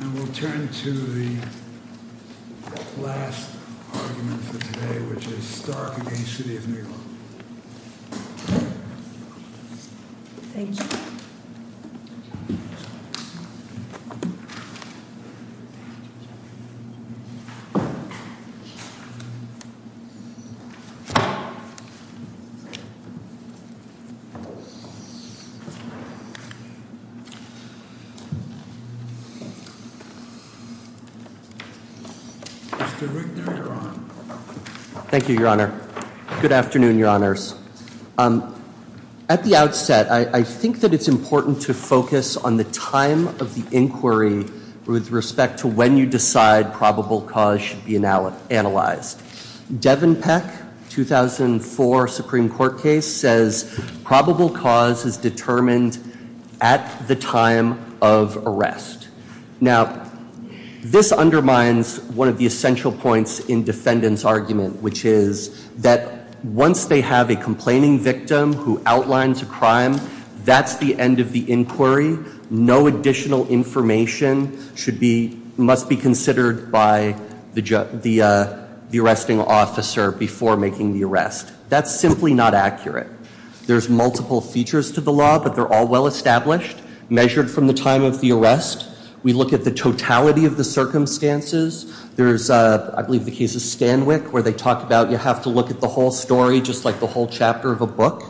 And we'll turn to the last argument for today, which is Stark v. City of New York. Thank you. Mr. Wigner, you're on. Thank you, Your Honor. Good afternoon, Your Honors. At the outset, I think that it's important to focus on the time of the inquiry with respect to when you decide probable cause should be analyzed. Devin Peck, 2004 Supreme Court case, says probable cause is determined at the time of arrest. Now, this undermines one of the essential points in defendant's argument, which is that once they have a complaining victim who outlines a crime, that's the end of the inquiry. No additional information must be considered by the arresting officer before making the arrest. That's simply not accurate. There's multiple features to the law, but they're all well-established, measured from the time of the arrest. We look at the totality of the circumstances. There's, I believe the case of Stanwyck, where they talk about you have to look at the whole story just like the whole chapter of a book.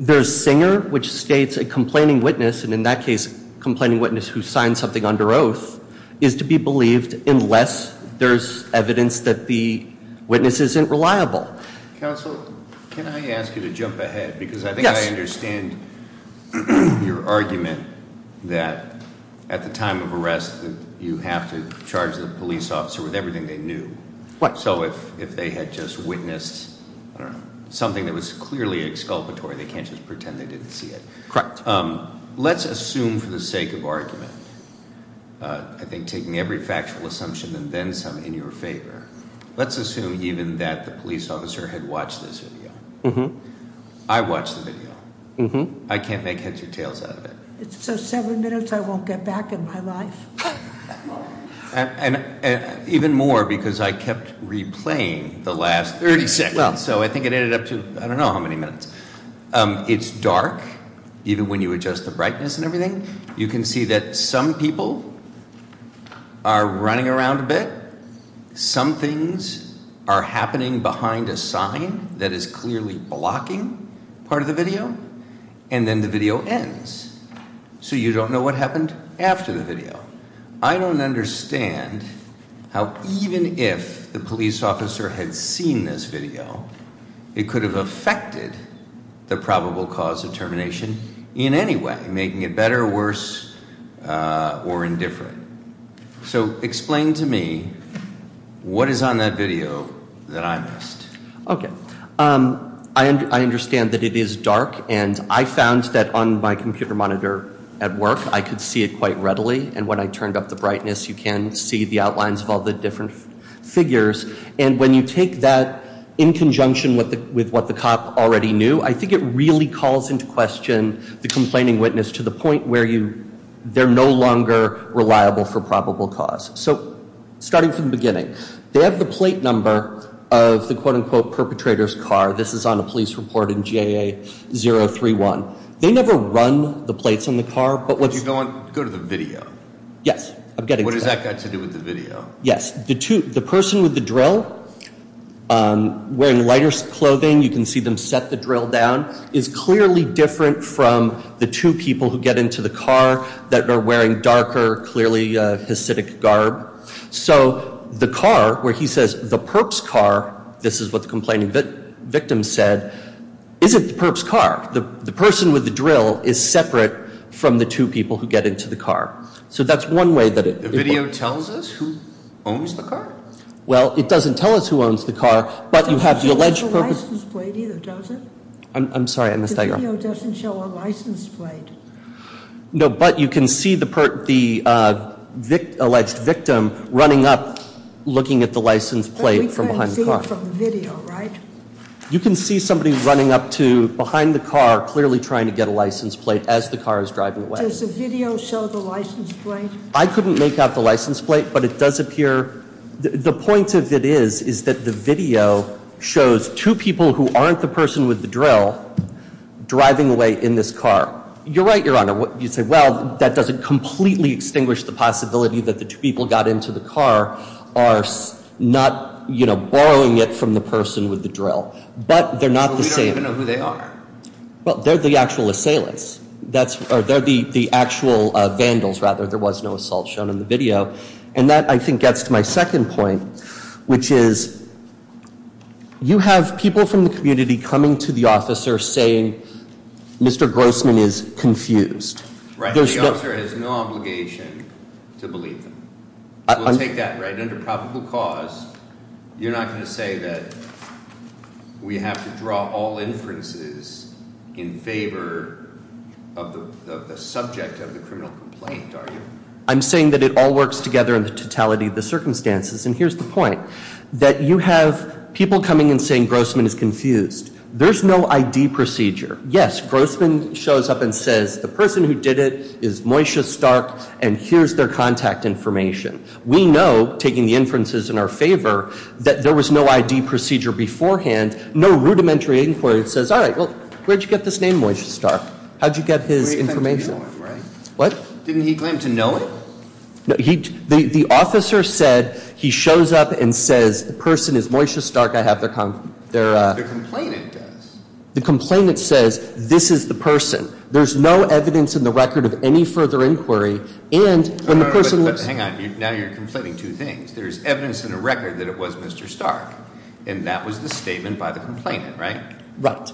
There's Singer, which states a complaining witness, and in that case, complaining witness who signed something under oath, is to be believed unless there's evidence that the witness isn't reliable. Counsel, can I ask you to jump ahead? Because I think I understand your argument that at the time of arrest, you have to charge the police officer with everything they knew. What? So if they had just witnessed something that was clearly exculpatory, they can't just pretend they didn't see it. Correct. Let's assume for the sake of argument, I think taking every factual assumption and then some in your favor. Let's assume even that the police officer had watched this video. I watched the video. I can't make heads or tails out of it. So seven minutes I won't get back in my life? Even more because I kept replaying the last 30 seconds, so I think it ended up to I don't know how many minutes. It's dark, even when you adjust the brightness and everything. You can see that some people are running around a bit. Some things are happening behind a sign that is clearly blocking part of the video. And then the video ends. So you don't know what happened after the video. I don't understand how even if the police officer had seen this video, it could have affected the probable cause of termination in any way, making it better, worse, or indifferent. So explain to me what is on that video that I missed. I understand that it is dark. And I found that on my computer monitor at work, I could see it quite readily. And when I turned up the brightness, you can see the outlines of all the different figures. And when you take that in conjunction with what the cop already knew, I think it really calls into question the complaining witness to the point where they're no longer reliable for probable cause. So starting from the beginning, they have the plate number of the quote-unquote perpetrator's car. This is on a police report in GAA-031. They never run the plates on the car, but what's… Go to the video. Yes, I'm getting to that. What does that got to do with the video? Yes. The person with the drill, wearing lighter clothing, you can see them set the drill down, is clearly different from the two people who get into the car that are wearing darker, clearly, hacidic garb. So the car where he says, the perp's car, this is what the complaining victim said, isn't the perp's car. The person with the drill is separate from the two people who get into the car. So that's one way that it… The video tells us who owns the car? Well, it doesn't tell us who owns the car, but you have the alleged… It doesn't show the license plate either, does it? I'm sorry, I missed that, Your Honor. The video doesn't show a license plate. No, but you can see the alleged victim running up, looking at the license plate from behind the car. But we can't see it from the video, right? You can see somebody running up to behind the car, clearly trying to get a license plate as the car is driving away. Does the video show the license plate? I couldn't make out the license plate, but it does appear… The point of it is, is that the video shows two people who aren't the person with the drill driving away in this car. You're right, Your Honor. You say, well, that doesn't completely extinguish the possibility that the two people got into the car are not, you know, borrowing it from the person with the drill. But they're not the same. But we don't even know who they are. Well, they're the actual assailants. They're the actual vandals, rather. There was no assault shown in the video. And that, I think, gets to my second point, which is you have people from the community coming to the officer saying Mr. Grossman is confused. Right. The officer has no obligation to believe them. We'll take that, right? Under probable cause, you're not going to say that we have to draw all inferences in favor of the subject of the criminal complaint, are you? I'm saying that it all works together in the totality of the circumstances. And here's the point, that you have people coming and saying Grossman is confused. There's no ID procedure. Yes, Grossman shows up and says the person who did it is Moishe Stark, and here's their contact information. We know, taking the inferences in our favor, that there was no ID procedure beforehand, no rudimentary inquiry that says, all right, well, where'd you get this name Moishe Stark? How'd you get his information? What? Didn't he claim to know it? The officer said he shows up and says the person is Moishe Stark. I have their contact information. The complainant does. The complainant says this is the person. There's no evidence in the record of any further inquiry. Hang on, now you're conflating two things. There's evidence in the record that it was Mr. Stark, and that was the statement by the complainant, right? Right.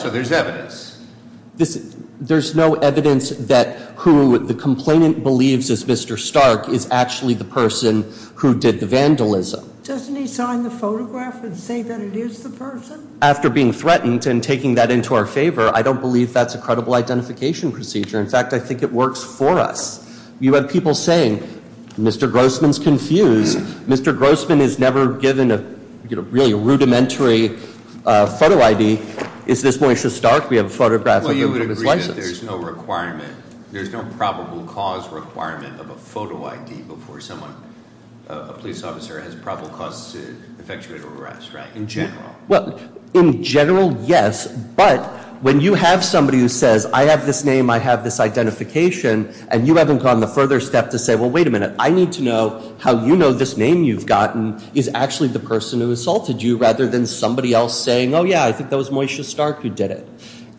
So there's evidence. There's no evidence that who the complainant believes is Mr. Stark is actually the person who did the vandalism. Doesn't he sign the photograph and say that it is the person? After being threatened and taking that into our favor, I don't believe that's a credible identification procedure. In fact, I think it works for us. You have people saying, Mr. Grossman's confused. Mr. Grossman is never given a really rudimentary photo ID. Is this Moishe Stark? We have a photograph of him with his license. Well, you would agree that there's no requirement, there's no probable cause requirement of a photo ID before someone, a police officer, has probable cause to effectuate an arrest, right, in general? Well, in general, yes. But when you have somebody who says, I have this name, I have this identification, and you haven't gone the further step to say, well, wait a minute. I need to know how you know this name you've gotten is actually the person who assaulted you rather than somebody else saying, oh, yeah, I think that was Moishe Stark who did it.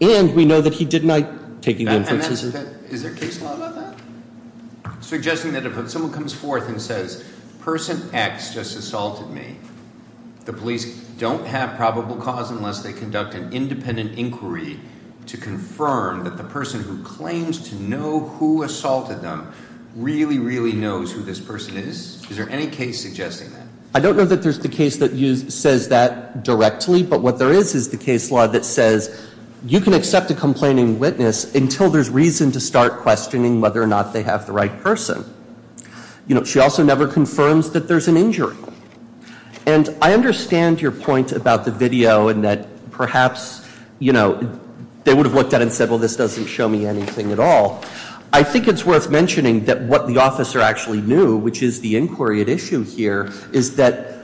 And we know that he did not take the inference. Is there case law about that? Suggesting that if someone comes forth and says, person X just assaulted me, the police don't have probable cause unless they conduct an independent inquiry to confirm that the person who claims to know who assaulted them really, really knows who this person is? Is there any case suggesting that? I don't know that there's the case that says that directly. But what there is is the case law that says you can accept a complaining witness until there's reason to start questioning whether or not they have the right person. She also never confirms that there's an injury. And I understand your point about the video and that perhaps they would have looked at it and said, well, this doesn't show me anything at all. I think it's worth mentioning that what the officer actually knew, which is the inquiry at issue here, is that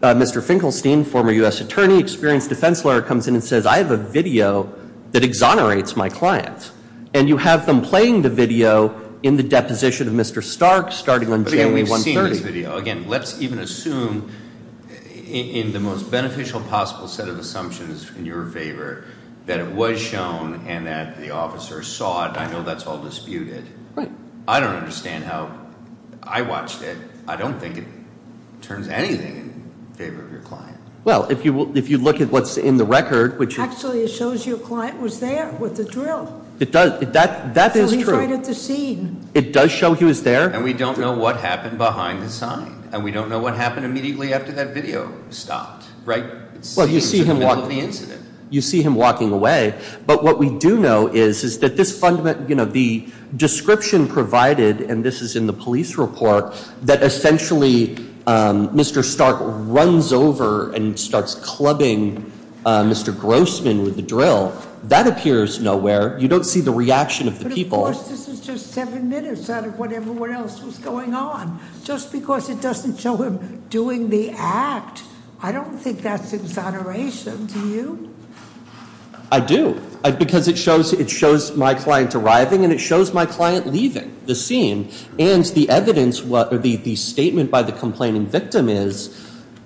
Mr. Finkelstein, former US attorney, experienced defense lawyer, comes in and says, I have a video that exonerates my clients. And you have them playing the video in the deposition of Mr. Stark starting on January 1, 1930. Again, let's even assume in the most beneficial possible set of assumptions in your favor that it was shown and that the officer saw it. I know that's all disputed. Right. I don't understand how I watched it. I don't think it turns anything in favor of your client. Well, if you look at what's in the record, which- Actually, it shows your client was there with the drill. It does. That is true. So he's right at the scene. It does show he was there. And we don't know what happened behind the scene. And we don't know what happened immediately after that video stopped. Right? You see him walking away. But what we do know is that the description provided, and this is in the police report, that essentially Mr. Stark runs over and starts clubbing Mr. Grossman with the drill, that appears nowhere. You don't see the reaction of the people. Of course, this is just seven minutes out of what everyone else was going on. Just because it doesn't show him doing the act, I don't think that's exoneration to you. I do. Because it shows my client arriving and it shows my client leaving the scene. And the evidence, the statement by the complaining victim is,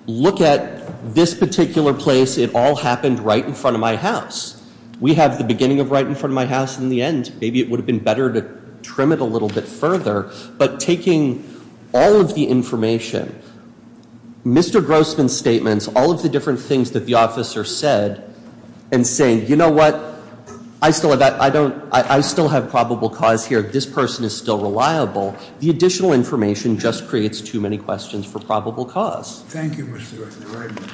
look at this particular place. It all happened right in front of my house. We have the beginning of right in front of my house and the end. Maybe it would have been better to trim it a little bit further. But taking all of the information, Mr. Grossman's statements, all of the different things that the officer said and saying, you know what? I still have probable cause here. This person is still reliable. The additional information just creates too many questions for probable cause. Thank you, Mr. Wessler. Very much.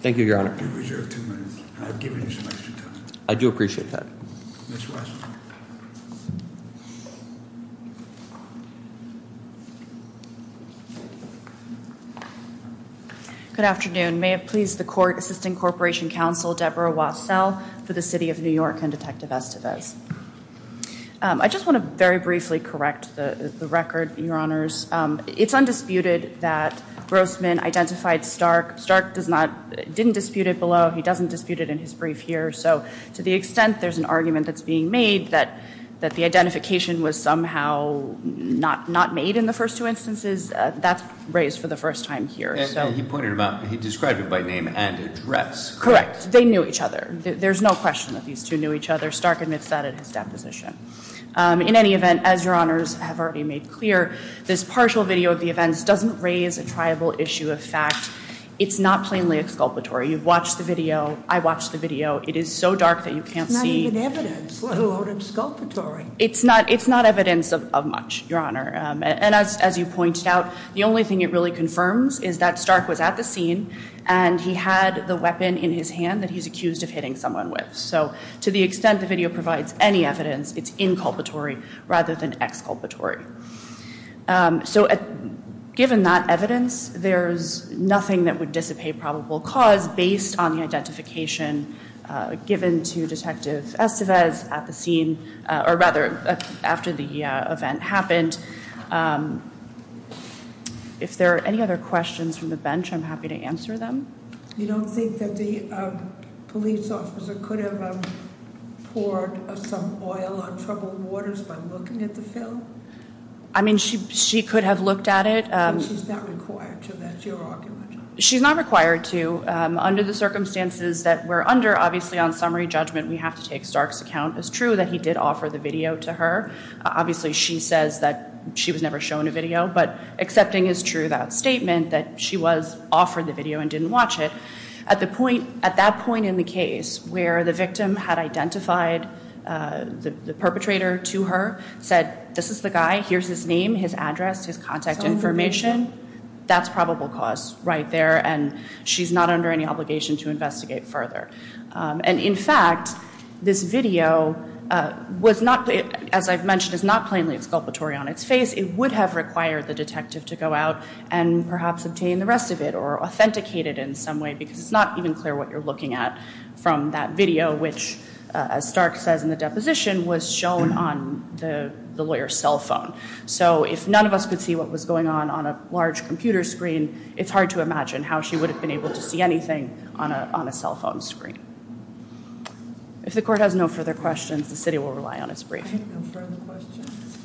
Thank you, Your Honor. You reserve two minutes. I've given you some extra time. I do appreciate that. Ms. Wessler. Good afternoon. May it please the Court, Assistant Corporation Counsel Deborah Wassell for the City of New York and Detective Estevez. I just want to very briefly correct the record, Your Honors. It's undisputed that Grossman identified Stark. Stark didn't dispute it below. He doesn't dispute it in his brief here. So to the extent there's an argument that's being made that the identification was somehow not made in the first two instances, that's raised for the first time here. He described it by name and address. Correct. They knew each other. There's no question that these two knew each other. Stark admits that in his deposition. In any event, as Your Honors have already made clear, this partial video of the events doesn't raise a triable issue of fact. It's not plainly exculpatory. You've watched the video. I watched the video. It is so dark that you can't see. It's not even evidence, let alone exculpatory. It's not evidence of much, Your Honor. And as you pointed out, the only thing it really confirms is that Stark was at the scene and he had the weapon in his hand that he's accused of hitting someone with. So to the extent the video provides any evidence, it's inculpatory rather than exculpatory. So given that evidence, there's nothing that would dissipate probable cause based on the identification given to Detective Estevez at the scene, or rather, after the event happened. If there are any other questions from the bench, I'm happy to answer them. You don't think that the police officer could have poured some oil on troubled waters by looking at the film? I mean, she could have looked at it. She's not required to. That's your argument. She's not required to. Under the circumstances that we're under, obviously on summary judgment, we have to take Stark's account as true that he did offer the video to her. Obviously, she says that she was never shown a video, but accepting is true that statement that she was offered the video and didn't watch it. At that point in the case where the victim had identified the perpetrator to her, said, this is the guy, here's his name, his address, his contact information, that's probable cause right there. And she's not under any obligation to investigate further. And in fact, this video, as I've mentioned, is not plainly exculpatory on its face. It would have required the detective to go out and perhaps obtain the rest of it or authenticate it in some way because it's not even clear what you're looking at from that video, which, as Stark says in the deposition, was shown on the lawyer's cell phone. So if none of us could see what was going on on a large computer screen, it's hard to imagine how she would have been able to see anything on a cell phone screen. If the court has no further questions, the city will rely on its briefing. No further questions.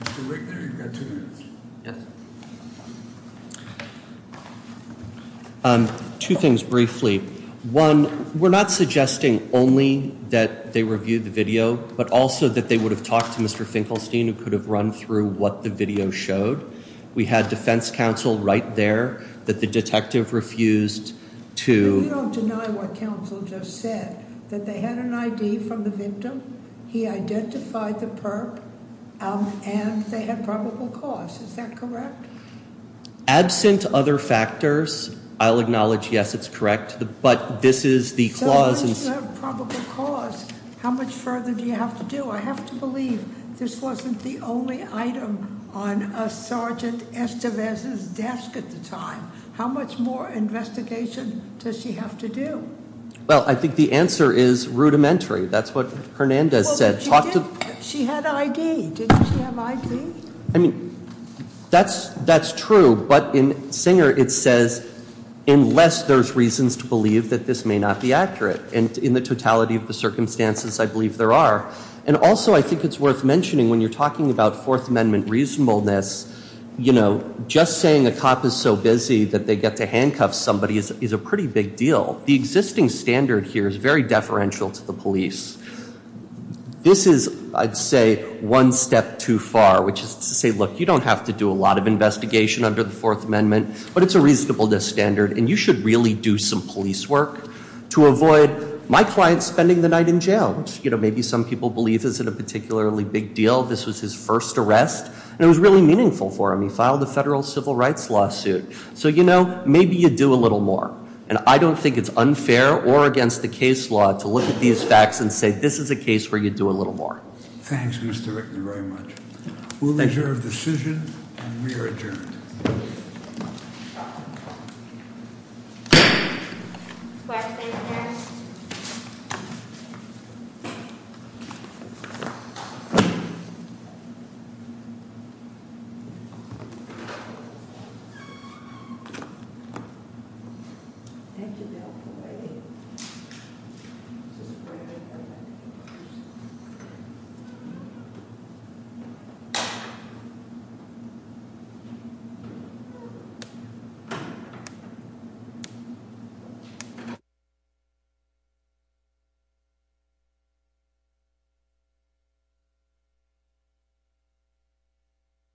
Mr. Wigner, you've got two minutes. Yes. Two things briefly. One, we're not suggesting only that they reviewed the video, but also that they would have talked to Mr. Finkelstein who could have run through what the video showed. We had defense counsel right there that the detective refused to- We don't deny what counsel just said, that they had an ID from the victim, he identified the perp, and they had probable cause. Is that correct? Absent other factors, I'll acknowledge, yes, it's correct. But this is the clause- So unless you have probable cause, how much further do you have to do? I have to believe this wasn't the only item on a Sergeant Estevez's desk at the time. How much more investigation does she have to do? Well, I think the answer is rudimentary. That's what Hernandez said. She had ID. Didn't she have ID? I mean, that's true, but in Singer it says, unless there's reasons to believe that this may not be accurate. And in the totality of the circumstances, I believe there are. And also I think it's worth mentioning when you're talking about Fourth Amendment reasonableness, you know, just saying a cop is so busy that they get to handcuff somebody is a pretty big deal. The existing standard here is very deferential to the police. This is, I'd say, one step too far, which is to say, look, you don't have to do a lot of investigation under the Fourth Amendment. But it's a reasonableness standard, and you should really do some police work to avoid my client spending the night in jail. You know, maybe some people believe this isn't a particularly big deal. This was his first arrest, and it was really meaningful for him. He filed a federal civil rights lawsuit. So, you know, maybe you do a little more. And I don't think it's unfair or against the case law to look at these facts and say, this is a case where you do a little more. Thanks, Mr. Rickman, very much. We'll reserve decision, and we are adjourned. Thank you.